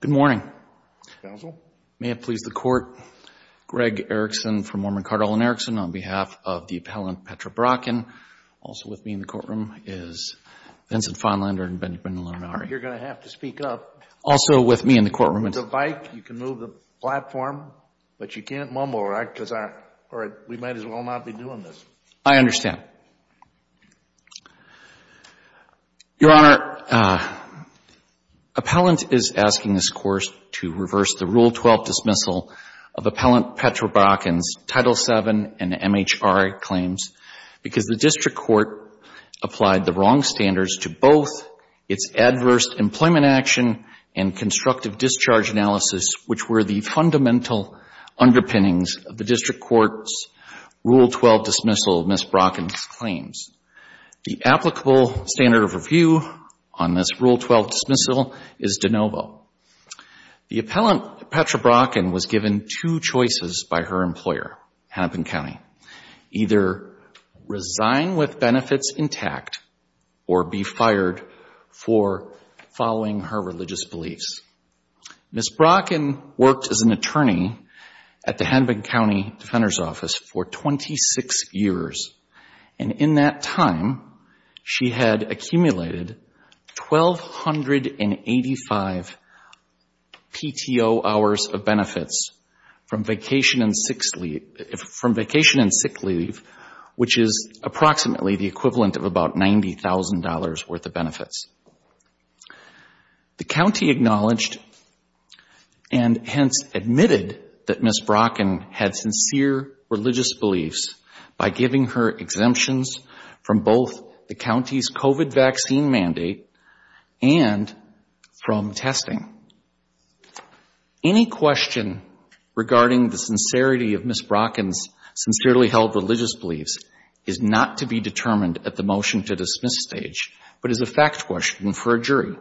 Good morning, counsel. May it please the court, Greg Erickson from Mormon-Cartel & Erickson on behalf of the appellant Petra Brokken. Also with me in the courtroom is Vincent Feinlander and Benjamin Lonari. You're going to have to speak up. Also with me in the courtroom It's a bike. You can move the platform, but you can't mumble, right, because we might as well not be doing this. I understand. Your Honor, appellant is asking this court to reverse the Rule 12 dismissal of appellant Petra Brokken's Title VII and MHRA claims because the district court applied the wrong standards to both its adverse employment action and constructive discharge analysis, which were the fundamental underpinnings of the district court's Rule 12 dismissal of Ms. Brokken's claims. The applicable standard of review on this Rule 12 dismissal is de novo. The appellant Petra Brokken was given two choices by her employer, Hennepin County, either resign with benefits intact or be fired for following her religious beliefs. Ms. Brokken worked as an attorney at the Hennepin County Defender's Office for 26 years, and in that time, she had accumulated 1,285 PTO hours of benefits from vacation and sick leave, which is approximately the equivalent of about $90,000 worth of benefits. The county acknowledged and hence admitted that Ms. Brokken had sincere religious beliefs by giving her exemptions from both the county's COVID vaccine mandate and from testing. Any question regarding the sincerity of Ms. Brokken's sincerely held religious beliefs is not to be determined at the motion-to-dismiss stage, but is a fact question for a jury.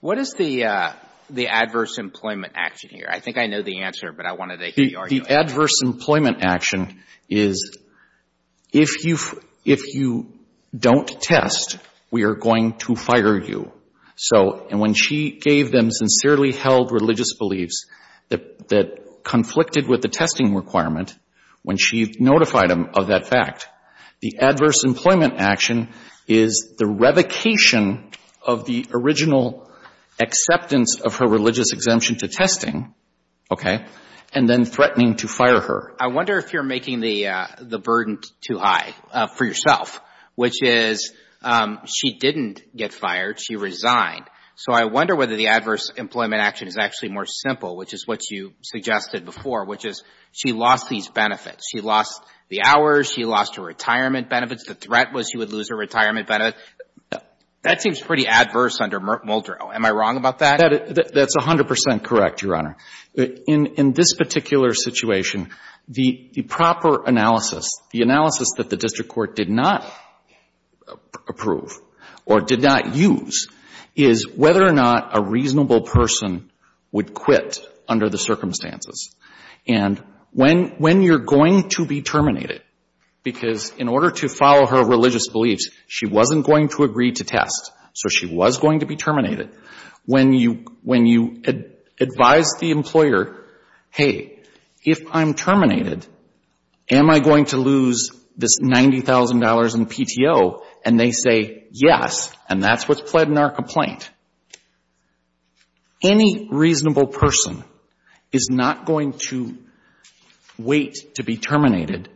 What is the adverse employment action here? I think I know the answer, but I wanted to hear the argument. The adverse employment action is, if you don't test, we are going to fire you. So, and when she gave them sincerely held religious beliefs that conflicted with the testing requirement, when she notified them of that fact, the adverse employment action is the revocation of the original acceptance of her religious exemption to testing, okay, and then threatening to fire her. I wonder if you are making the burden too high for yourself, which is, she didn't get fired. She resigned. So, I wonder whether the adverse employment action is actually more simple, which is what you suggested before, which is, she lost these benefits. She lost the hours. She lost her retirement benefits. The threat was she would lose her retirement benefits. That seems pretty adverse under Muldrow. Am I wrong about that? That's 100 percent correct, Your Honor. In this particular situation, the proper analysis, the analysis that the district court did not approve or did not use is whether or not a reasonable person would quit under the circumstances. And when you are going to be terminated, because in order to follow her religious beliefs, she wasn't going to agree to test, so she was going to be terminated, when you advise the employer, hey, if I'm terminated, am I going to lose this $90,000 in PTO? And they say, yes, and that's what's pled in our complaint. Any reasonable person is not going to wait to be terminated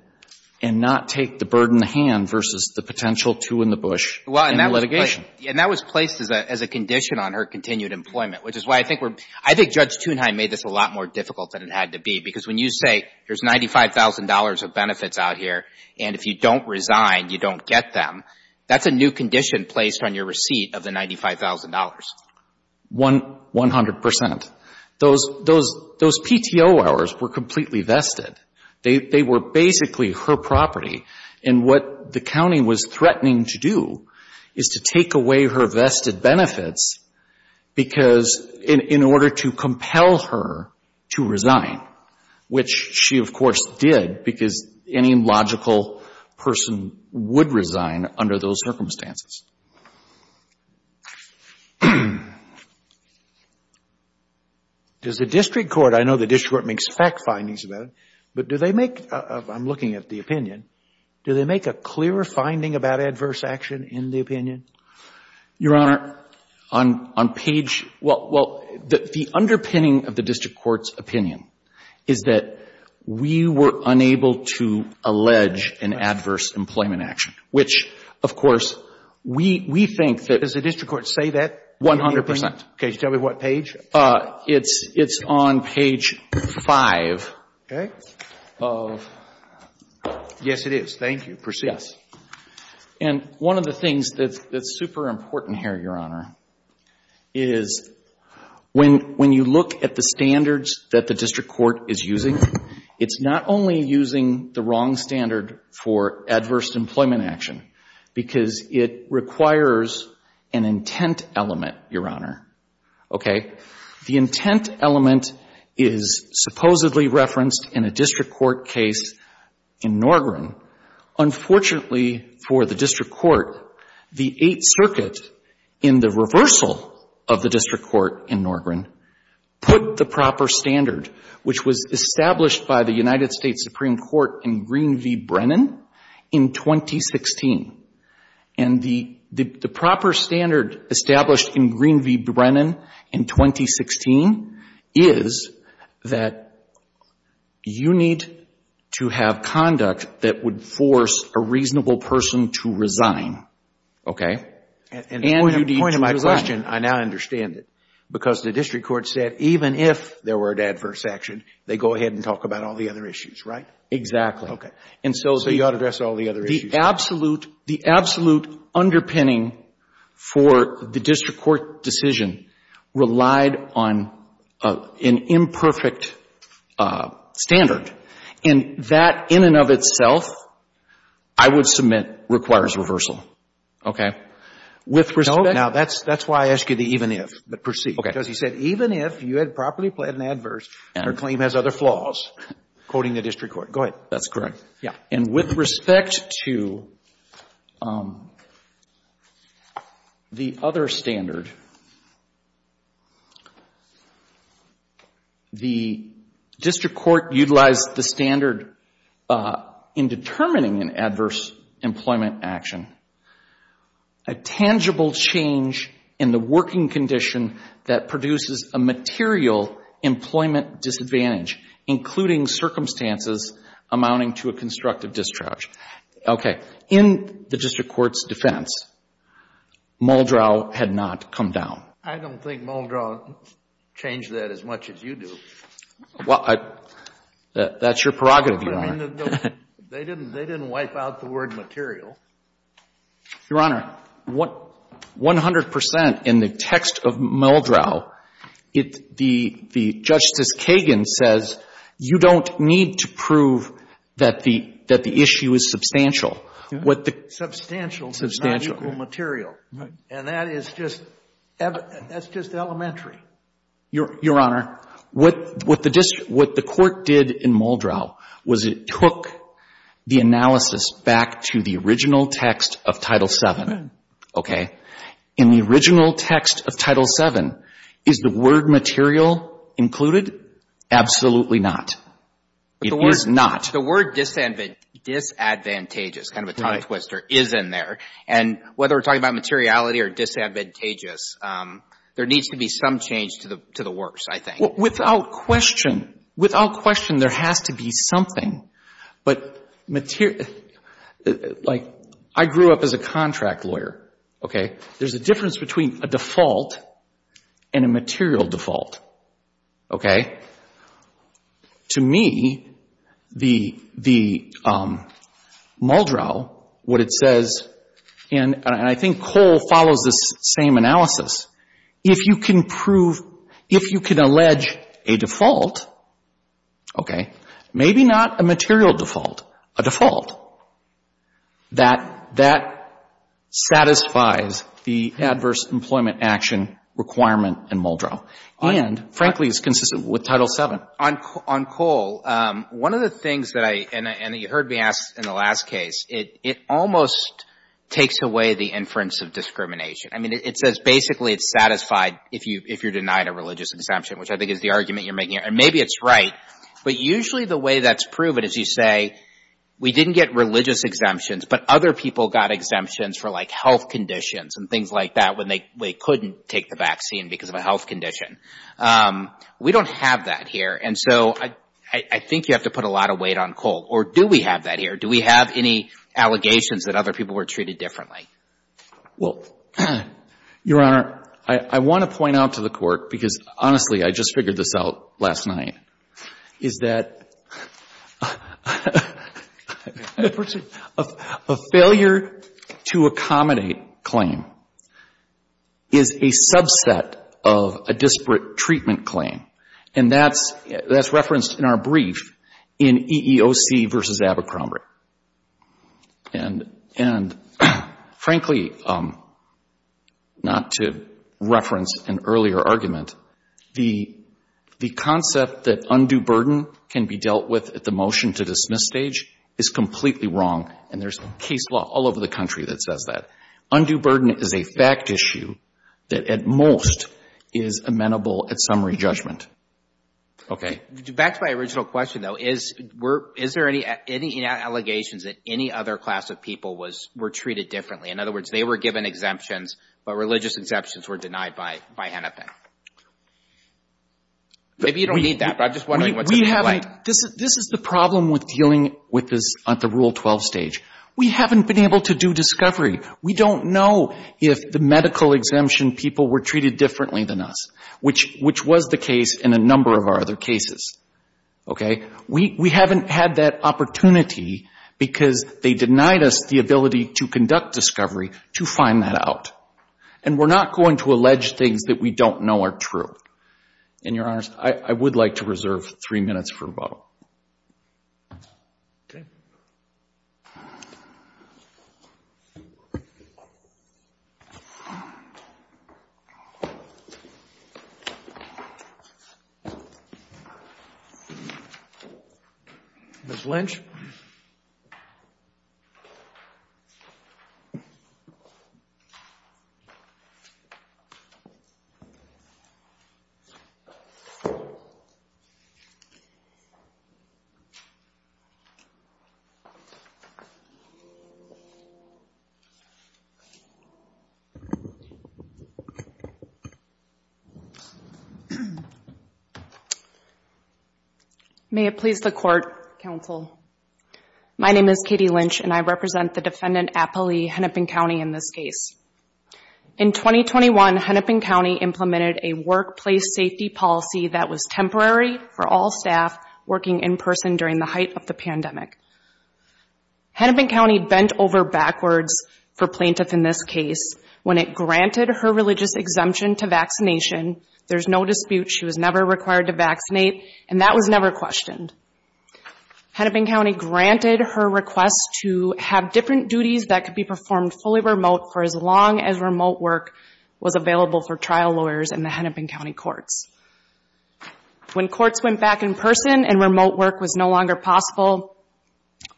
and not take the bird in the hand versus the potential two in the bush in the litigation. And that was placed as a condition on her continued employment, which is why I think we're, I think Judge Thunheim made this a lot more difficult than it had to be, because when you say there's $95,000 of benefits out here, and if you don't resign, you don't get them, that's a new condition placed on your receipt of the $95,000. One hundred percent. Those PTO hours were completely vested. They were basically her property. And what the county was threatening to do is to take away her vested benefits because in order to compel her to resign, which she, of course, did, because any logical person would resign under those circumstances. Does the district court, I know the district court makes fact findings about it, but do they make, I'm looking at the opinion, do they make a clearer finding about adverse action in the opinion? Your Honor, on page, well, the underpinning of the district court's opinion is that we were unable to allege an adverse employment action, which, of course, we think that. Does the district court say that? One hundred percent. Can you tell me what page? It's on page 5. Okay. Yes, it is. Thank you. Proceed. Yes. And one of the things that's super important here, Your Honor, is when you look at the standards that the district court is using, it's not only using the wrong standard for adverse employment action because it requires an intent element, Your Honor. Okay? The intent element is supposedly referenced in a district court case in Norgren. Unfortunately for the district court, the Eighth Circuit, in the reversal of the district court in Norgren, put the proper standard, which was established by the United States Supreme Court in Green v. Brennan in 2016. And the proper standard established in Green v. Brennan in 2016 is that you need to have conduct that would force a reasonable person to resign. Okay? And you need to resign. And the point of my question, I now understand it, because the district court said even if there were an adverse action, they go ahead and talk about all the other issues, right? Exactly. Okay. So you ought to address all the other issues. The absolute underpinning for the district court decision relied on an imperfect standard. And that in and of itself, I would submit, requires reversal. Okay? With respect to the other standard, the district court said even if there were an adverse action, they go ahead and talk about all the other issues. Okay? And the point of my question, I now understand it, because the district court said even if there were an adverse action, they go ahead and talk about all the other issues. Okay? With respect to the other standard, the district court utilized the standard in determining an adverse employment action, a tangible change in the working condition that produces a material employment disadvantage, including circumstances amounting to a constructive discharge. Okay. In the district court's defense, Muldrow had not come down. I don't think Muldrow changed that as much as you do. That's your prerogative, Your Honor. They didn't wipe out the word material. Your Honor, 100 percent in the text of Muldrow, the Justice Kagan says you don't need to say the issue is substantial. Substantial is not equal material. And that is just elementary. Your Honor, what the court did in Muldrow was it took the analysis back to the original text of Title VII. Okay? In the original text of Title VII, is the word material included? Absolutely not. It is not. Your Honor, the word disadvantageous, kind of a tongue twister, is in there. And whether we're talking about materiality or disadvantageous, there needs to be some change to the works, I think. Without question. Without question, there has to be something. But material, like I grew up as a contract lawyer. Okay? There's a difference between a default and a material default. Okay? To me, the Muldrow, what it says, and I think Cole follows this same analysis, if you can prove, if you can allege a default, okay, maybe not a material default, a default, that satisfies the adverse employment action requirement in Muldrow. And frankly, it's consistent with Title VII. On Cole, one of the things that I, and you heard me ask in the last case, it almost takes away the inference of discrimination. I mean, it says basically it's satisfied if you're denied a religious exemption, which I think is the argument you're making. And maybe it's right. But usually the way that's proven is you say, we didn't get religious exemptions, but other people got exemptions for, like, health conditions and things like that when they couldn't take the vaccine because of a health condition. We don't have that here. And so I think you have to put a lot of weight on Cole. Or do we have that here? Do we have any allegations that other people were treated differently? Well, Your Honor, I want to point out to the Court, because honestly, I just figured this out last night, is that a failure-to-accommodate claim is a subset of a disparate treatment claim. And that's referenced in our brief in EEOC v. Abercrombie. And, frankly, not to reference an earlier argument, the concept that undue burden can be dealt with at the motion-to-dismiss stage is completely wrong. And there's case law all over the country that says that. Undue burden is a fact issue that at most is amenable at summary judgment. Okay? Back to my original question, though. Is there any allegations that any other class of people were treated differently? In other words, they were given exemptions, but religious exemptions were denied by Hennepin. Maybe you don't need that, but I'm just wondering what's in the light. We haven't. This is the problem with dealing with this at the Rule 12 stage. We haven't been able to do discovery. We don't know if the medical exemption people were treated differently than us, which was the case in a number of our other cases. Okay? We haven't had that opportunity because they denied us the ability to conduct discovery to find that out. And we're not going to allege things that we don't know are true. And, Your Honors, I would like to reserve three minutes for a vote. Ms. Lynch? May it please the Court, Counsel. My name is Katie Lynch, and I represent the defendant Applee, Hennepin County, in this case. In 2021, Hennepin County implemented a workplace safety policy that was temporary for all staff working in person during the height of the pandemic. Hennepin County bent over backwards for plaintiff in this case when it granted her religious exemption to vaccination. There's no dispute. She was never required to vaccinate, and that was never questioned. Hennepin County granted her request to have different duties that could be performed fully remote for as long as remote work was available for trial lawyers in the Hennepin County courts. When courts went back in person and remote work was no longer possible,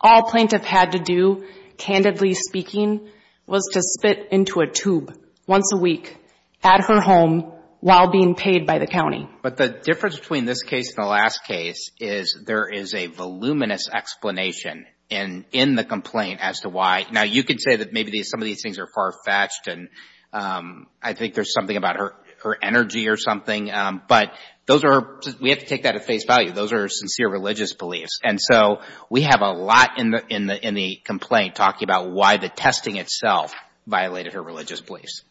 all plaintiff had to do, candidly speaking, was to spit into a tube once a week at her home while being paid by the county. But the difference between this case and the last case is there is a voluminous explanation in the complaint as to why. Now, you could say that maybe some of these things are far-fetched, and I think there's something about her energy or something. But those are, we have to take that at face value. Those are sincere religious beliefs. And so we have a lot in the complaint talking about why the testing itself violated her religious beliefs.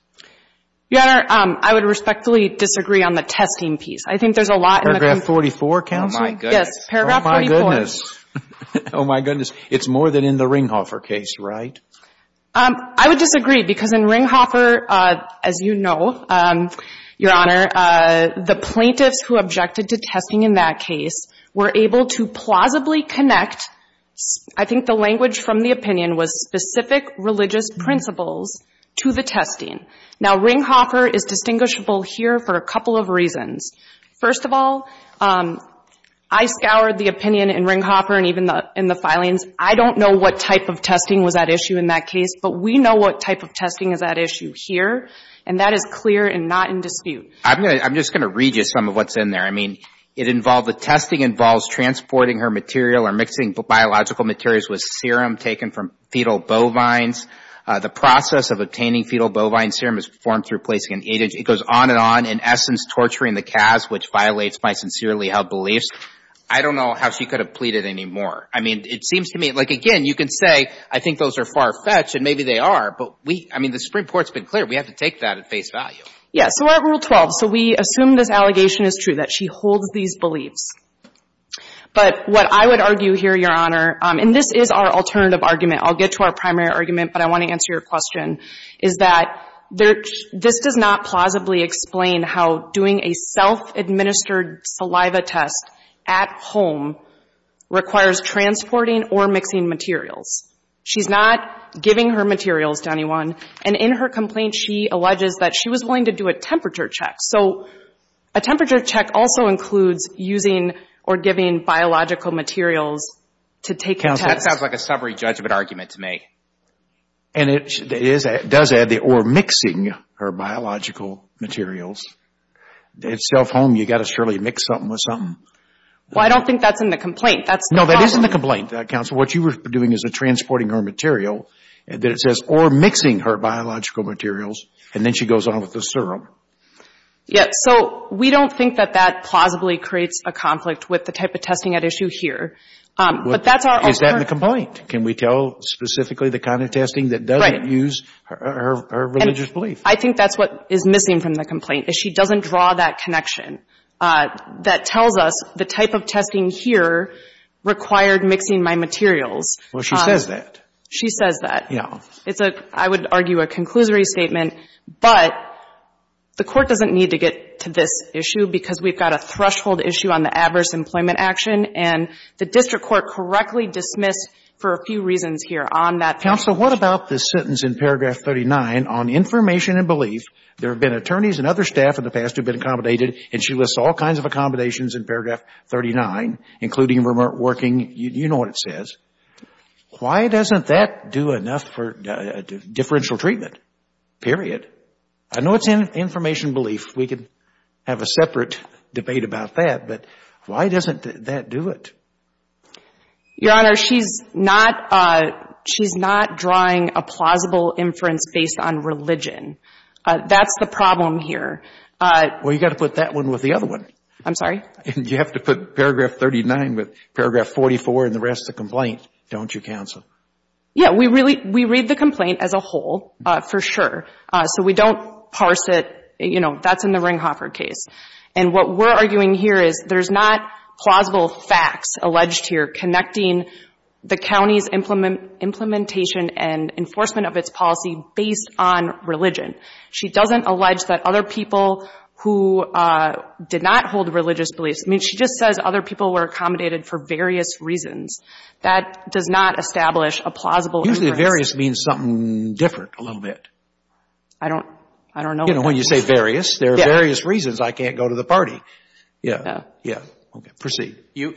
Your Honor, I would respectfully disagree on the testing piece. I think there's a lot in the complaint. Paragraph 44, Counsel? Oh, my goodness. Oh, my goodness. It's more than in the Ringhofer case, right? I would disagree because in Ringhofer, as you know, Your Honor, the plaintiffs who objected to testing in that case were able to plausibly connect, I think the language from the opinion was specific religious principles to the testing. Now, Ringhofer is distinguishable here for a couple of reasons. First of all, I scoured the opinion in Ringhofer and even in the filings. I don't know what type of testing was at issue in that case, but we know what type of testing is at issue here, and that is clear and not in dispute. I'm just going to read you some of what's in there. I mean, it involved the testing involves transporting her material or mixing biological materials with serum taken from fetal bovines. The process of obtaining fetal bovine serum is formed through placing an agent. It goes on and on, in essence, torturing the calves, which violates my sincerely held beliefs. I don't know how she could have pleaded anymore. I mean, it seems to me, like, again, you can say, I think those are far-fetched, and maybe they are, but we, I mean, the Supreme Court's been clear. We have to take that at face value. Yes. So we're at Rule 12. So we assume this allegation is true, that she holds these beliefs. But what I would argue here, Your Honor, and this is our alternative argument. I'll get to our primary argument, but I want to answer your question, is that this does not plausibly explain how doing a self-administered saliva test at home requires transporting or mixing materials. She's not giving her materials to anyone. And in her complaint, she alleges that she was willing to do a temperature check. So a temperature check also includes using or giving biological materials to take a test. That sounds like a summary judgment argument to me. And it does add the, or mixing her biological materials. At self-home, you've got to surely mix something with something. Well, I don't think that's in the complaint. No, that is in the complaint, Counsel. What you were doing is transporting her material, or mixing her biological materials, and then she goes on with the serum. Yes. So we don't think that that plausibly creates a conflict with the type of testing at issue here. But that's our alternative. Is that in the complaint? Can we tell specifically the kind of testing that doesn't use her religious belief? I think that's what is missing from the complaint, is she doesn't draw that connection that tells us the type of testing here required mixing my materials. Well, she says that. She says that. Yeah. It's a, I would argue, a conclusory statement. But the Court doesn't need to get to this issue because we've got a threshold issue on the adverse employment action, and the district court correctly dismissed for a few reasons here on that. Counsel, what about this sentence in paragraph 39 on information and belief? There have been attorneys and other staff in the past who have been accommodated, and she lists all kinds of accommodations in paragraph 39, including remote working. You know what it says. Why doesn't that do enough for differential treatment, period? I know it's in information and belief. We could have a separate debate about that, but why doesn't that do it? Your Honor, she's not, she's not drawing a plausible inference based on religion. That's the problem here. Well, you've got to put that one with the other one. I'm sorry? You have to put paragraph 39 with paragraph 44 and the rest of the complaint, don't you, counsel? Yeah. We really, we read the complaint as a whole, for sure. So we don't parse it, you know, that's in the Ringhofer case. And what we're arguing here is there's not plausible facts alleged here connecting the county's implementation and enforcement of its policy based on religion. She doesn't allege that other people who did not hold religious beliefs, I mean, she just says other people were accommodated for various reasons. That does not establish a plausible inference. Usually various means something different, a little bit. I don't, I don't know. You know, when you say various, there are various reasons I can't go to the party. Yeah. Yeah. Okay. Proceed. You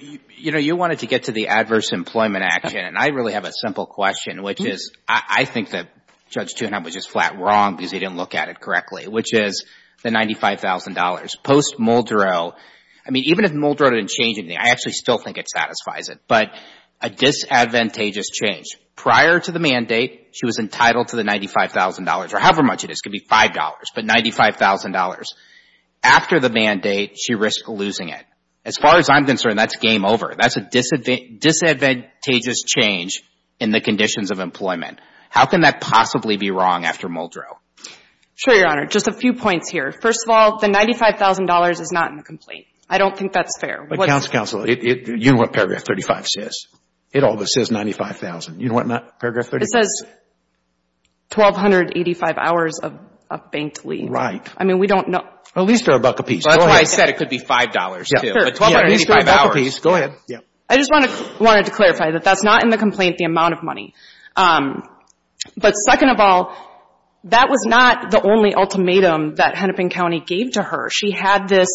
know, you wanted to get to the adverse employment action, and I really have a simple question, which is, I think that Judge Chunham was just flat wrong because he didn't look at it correctly, which is the $95,000. Post-Muldrow, I mean, even if Muldrow didn't change anything, I actually still think it satisfies it. But a disadvantageous change. Prior to the mandate, she was entitled to the $95,000, or however much it is, could be $5, but $95,000. After the mandate, she risked losing it. As far as I'm concerned, that's game over. That's a disadvantageous change in the conditions of employment. How can that possibly be wrong after Muldrow? Sure, Your Honor. Just a few points here. First of all, the $95,000 is not in the complaint. I don't think that's fair. But, counsel, counsel, you know what paragraph 35 says. It always says $95,000. You know what paragraph 35 says? It says 1,285 hours of banked leave. Right. I mean, we don't know. At least they're a buck apiece. That's why I said it could be $5, too. But 1,285 hours. At least they're a buck apiece. Go ahead. I just wanted to clarify that that's not in the complaint, the amount of money. But second of all, that was not the only ultimatum that Hennepin County gave to her. She had this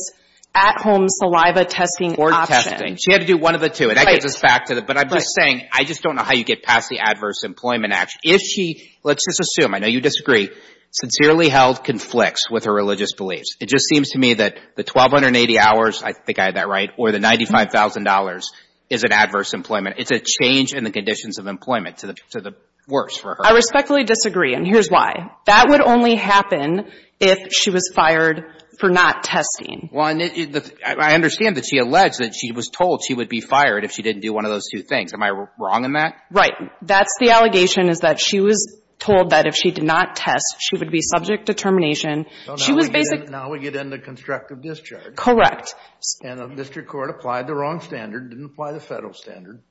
at-home saliva testing option. Board testing. She had to do one of the two. And that gets us back to the, but I'm just saying, I just don't know how you get past the Adverse Employment Act. If she, let's just assume, I know you disagree, sincerely held conflicts with her religious beliefs. It just seems to me that the 1,280 hours, I think I had that right, or the $95,000 is an adverse employment. It's a change in the conditions of employment to the worse for her. I respectfully disagree. And here's why. That would only happen if she was fired for not testing. Well, and I understand that she alleged that she was told she would be fired if she didn't do one of those two things. Am I wrong in that? Right. That's the allegation is that she was told that if she did not test, she would be subject to termination. She was basically Now we get into constructive discharge. Correct. And the district court applied the wrong standard, didn't apply the federal standard.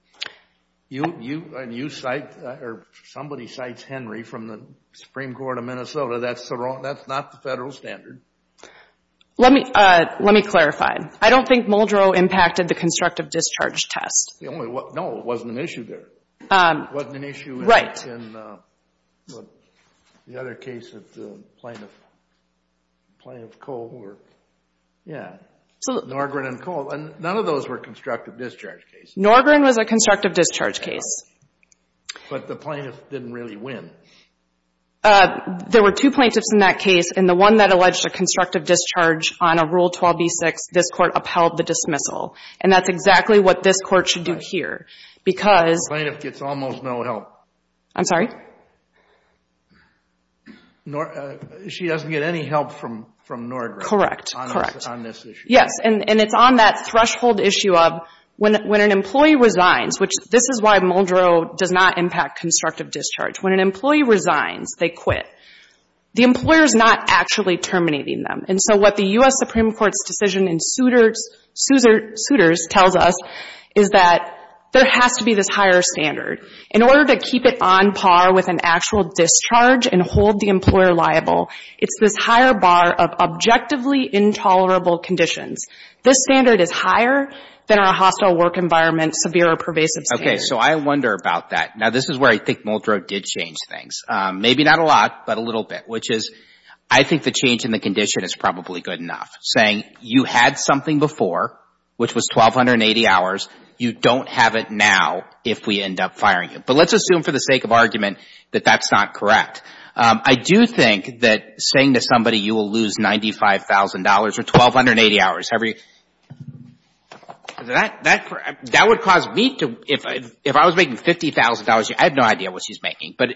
You cite, or somebody cites Henry from the Supreme Court of Minnesota. That's not the federal standard. Let me clarify. I don't think Muldrow impacted the constructive discharge test. No, it wasn't an issue there. Right. It wasn't an issue in the other case of the plaintiff, plaintiff Kohler. So Norgren and Kohler, none of those were constructive discharge cases. Norgren was a constructive discharge case. But the plaintiff didn't really win. There were two plaintiffs in that case, and the one that alleged a constructive discharge on a Rule 12b-6, this Court upheld the dismissal. And that's exactly what this Court should do here. Because The plaintiff gets almost no help. I'm sorry? She doesn't get any help from Norgren. Correct. Correct. On this issue. Yes. And it's on that threshold issue of when an employee resigns, which this is why Muldrow does not impact constructive discharge. When an employee resigns, they quit. The employer is not actually terminating them. And so what the U.S. does is that there has to be this higher standard. In order to keep it on par with an actual discharge and hold the employer liable, it's this higher bar of objectively intolerable conditions. This standard is higher than our hostile work environment, severe or pervasive standard. Okay. So I wonder about that. Now, this is where I think Muldrow did change things. Maybe not a lot, but a little bit, which is I think the change in the condition is probably good enough. Saying you had something before, which was 1,280 hours. You don't have it now if we end up firing you. But let's assume for the sake of argument that that's not correct. I do think that saying to somebody you will lose $95,000 or 1,280 hours, that would cause me to, if I was making $50,000, I have no idea what she's making. But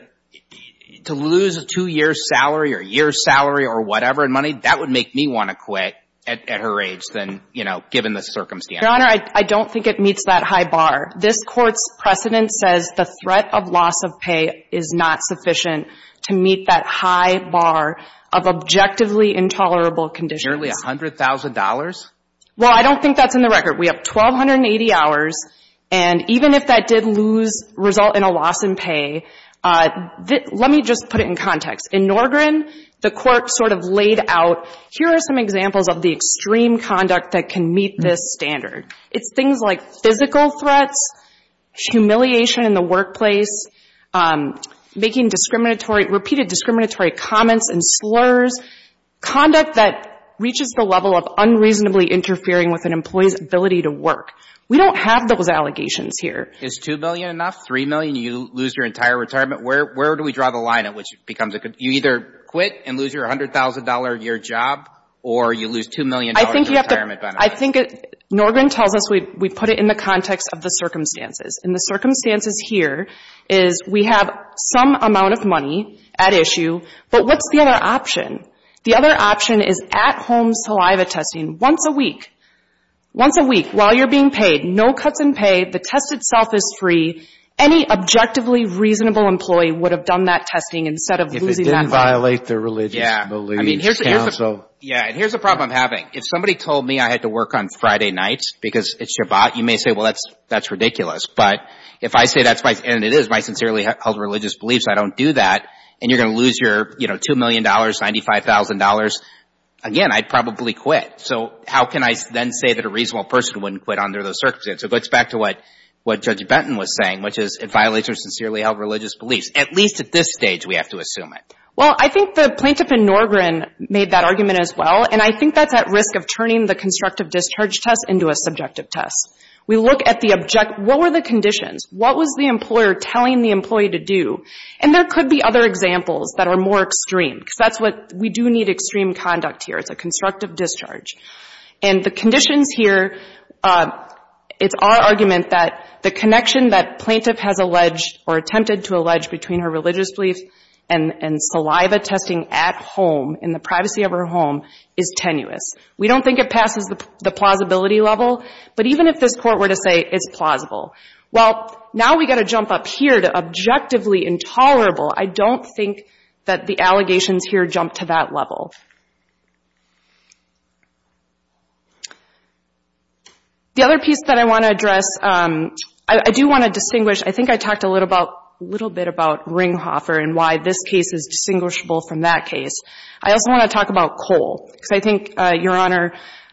to lose a two-year salary or a year's salary or whatever in money, that would make me want to quit at her age than, you know, given the circumstances. Your Honor, I don't think it meets that high bar. This Court's precedent says the threat of loss of pay is not sufficient to meet that high bar of objectively intolerable conditions. Nearly $100,000? Well, I don't think that's in the record. We have 1,280 hours. And even if that did lose, result in a loss in pay, let me just put it in context. In Norgren, the Court sort of laid out, here are some examples of the extreme conduct that can meet this standard. It's things like physical threats, humiliation in the workplace, making discriminatory, repeated discriminatory comments and slurs, conduct that reaches the level of unreasonably interfering with an employee's ability to work. We don't have those allegations here. Is $2 million enough? $3 million? You lose your entire retirement? Where do we draw the line at? You either quit and lose your $100,000 a year job, or you lose $2 million in retirement benefit? I think you have to — I think Norgren tells us we put it in the context of the circumstances. And the circumstances here is we have some amount of money at issue, but what's the other option? The other option is at-home saliva testing. Once a week. Once a week, while you're being paid. No cuts in pay. The test itself is free. Any objectively reasonable employee would have done that testing instead of losing that job. If it didn't violate the religious beliefs. Yeah. I mean, here's a problem I'm having. If somebody told me I had to work on Friday nights because it's Shabbat, you may say, well, that's ridiculous. But if I say that's my — and it is my sincerely held religious beliefs, I don't do that, and you're going to lose your, you know, $2 million, $95,000, again, I'd probably quit. So how can I then say that a reasonable person wouldn't quit under those circumstances? Well, let's go back to what Judge Benton was saying, which is it violates your sincerely held religious beliefs. At least at this stage, we have to assume it. Well, I think the plaintiff in Norgren made that argument as well, and I think that's at risk of turning the constructive discharge test into a subjective test. We look at the — what were the conditions? What was the employer telling the employee to do? And there could be other examples that are more extreme, because that's what — we do need extreme conduct here. It's a constructive discharge. And the conditions here, it's our argument that the connection that plaintiff has alleged or attempted to allege between her religious beliefs and saliva testing at home, in the privacy of her home, is tenuous. We don't think it passes the plausibility level, but even if this Court were to say it's plausible, well, now we got to jump up here to objectively intolerable. I don't think that the allegations here jump to that level. The other piece that I want to address, I do want to distinguish — I think I talked a little bit about Ringhofer and why this case is distinguishable from that case. I also want to talk about Cole, because I think Your Honor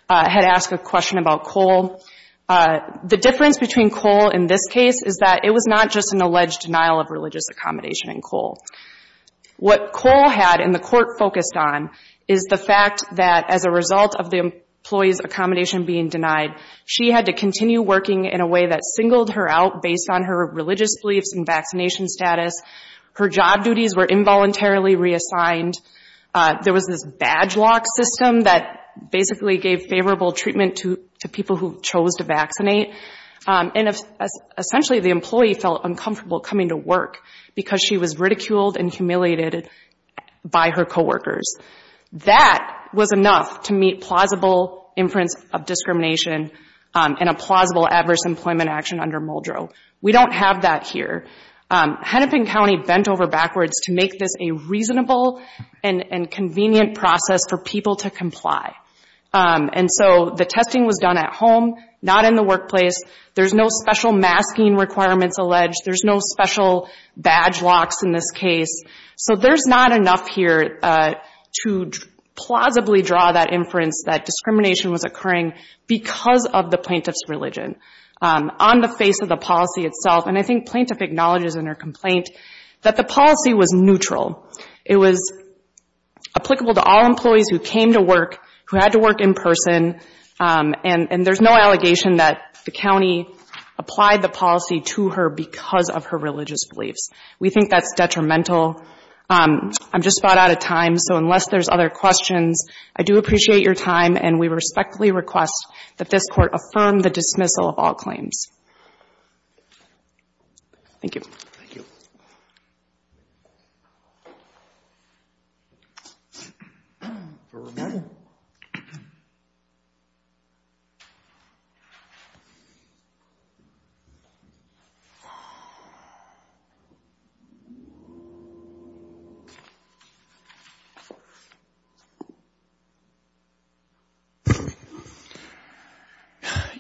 had asked a question about Cole. The difference between Cole in this case is that it was not just an alleged denial of religious accommodation in Cole. What Cole had, and the Court focused on, is the fact that as a result of the employee's accommodation being denied, she had to continue working in a way that singled her out based on her religious beliefs and vaccination status. Her job duties were involuntarily reassigned. There was this badge lock system that basically gave favorable treatment to people who chose to vaccinate. And essentially the employee felt uncomfortable coming to work because she was ridiculed and humiliated by her coworkers. That was enough to meet plausible inference of discrimination and a plausible adverse employment action under Muldrow. We don't have that here. Hennepin County bent over backwards to make this a reasonable and convenient process for people to comply. And so the testing was done at home, not in the workplace. There's no special masking requirements alleged. There's no special badge locks in this case. So there's not enough here to plausibly draw that inference that discrimination was occurring because of the plaintiff's religion. On the face of the policy itself, and I think plaintiff acknowledges in her complaint, that the policy was neutral. It was applicable to all employees who came to work, who had to work in person. And there's no allegation that the county applied the policy to her because of her religious beliefs. We think that's detrimental. I'm just about out of time. So unless there's other questions, I do appreciate your time. And we respectfully request that this Court affirm the dismissal of all claims. Thank you.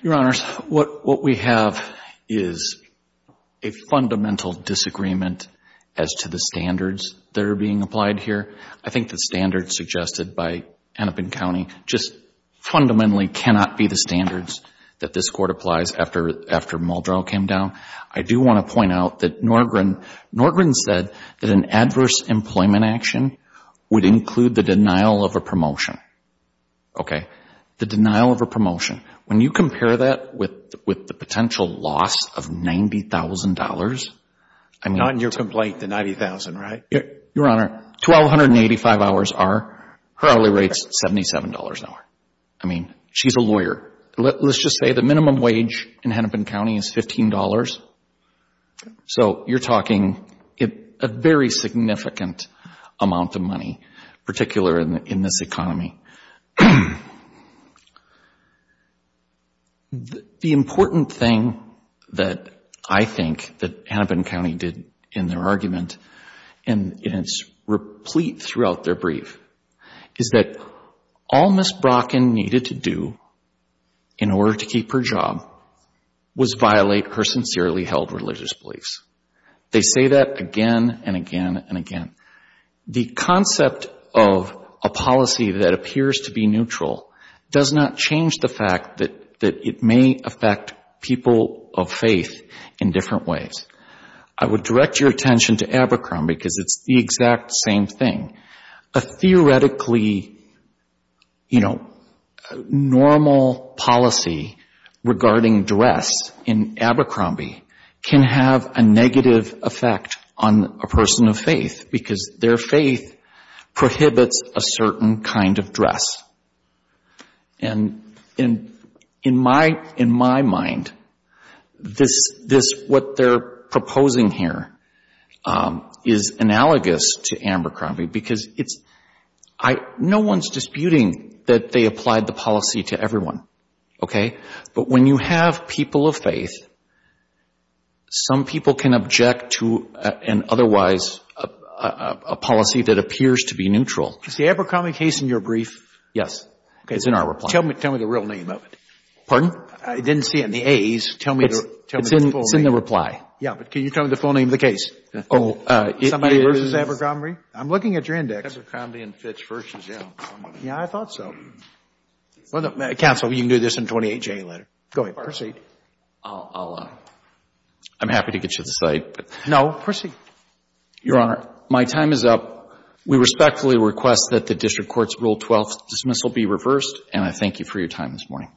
Your Honors, what we have is a fundamental disagreement as to the standards that I think the standards suggested by Annapin County just fundamentally cannot be the standards that this Court applies after Muldrow came down. I do want to point out that Norgren said that an adverse employment action would include the denial of a promotion. Okay? The denial of a promotion. When you compare that with the potential loss of $90,000, I mean... Her hourly rate is $77 an hour. I mean, she's a lawyer. Let's just say the minimum wage in Annapin County is $15. So you're talking a very significant amount of money, particularly in this economy. The important thing that I think that Annapin County did in their argument, and it's replete throughout their brief, is that all Ms. Brocken needed to do in order to keep her job was violate her sincerely held religious beliefs. They say that again and again and again. The concept of a policy that appears to be neutral does not change the fact that it may affect people of faith in different ways. I would direct your attention to Abercrombie because it's the exact same thing. A theoretically, you know, normal policy regarding dress in Abercrombie can have a negative effect on a person of faith because their faith prohibits a certain kind of loss. And in my mind, this, what they're proposing here is analogous to Abercrombie because it's, no one's disputing that they applied the policy to everyone, okay? But when you have people of faith, some people can object to an otherwise, a policy that appears to be neutral. Is the Abercrombie case in your brief? Yes. It's in our reply. Tell me the real name of it. Pardon? I didn't see it in the A's. No, proceed. Your Honor, my time is up. We respectfully request that the district court's Rule 12 dismissal be reversed, and I thank you for your time this morning.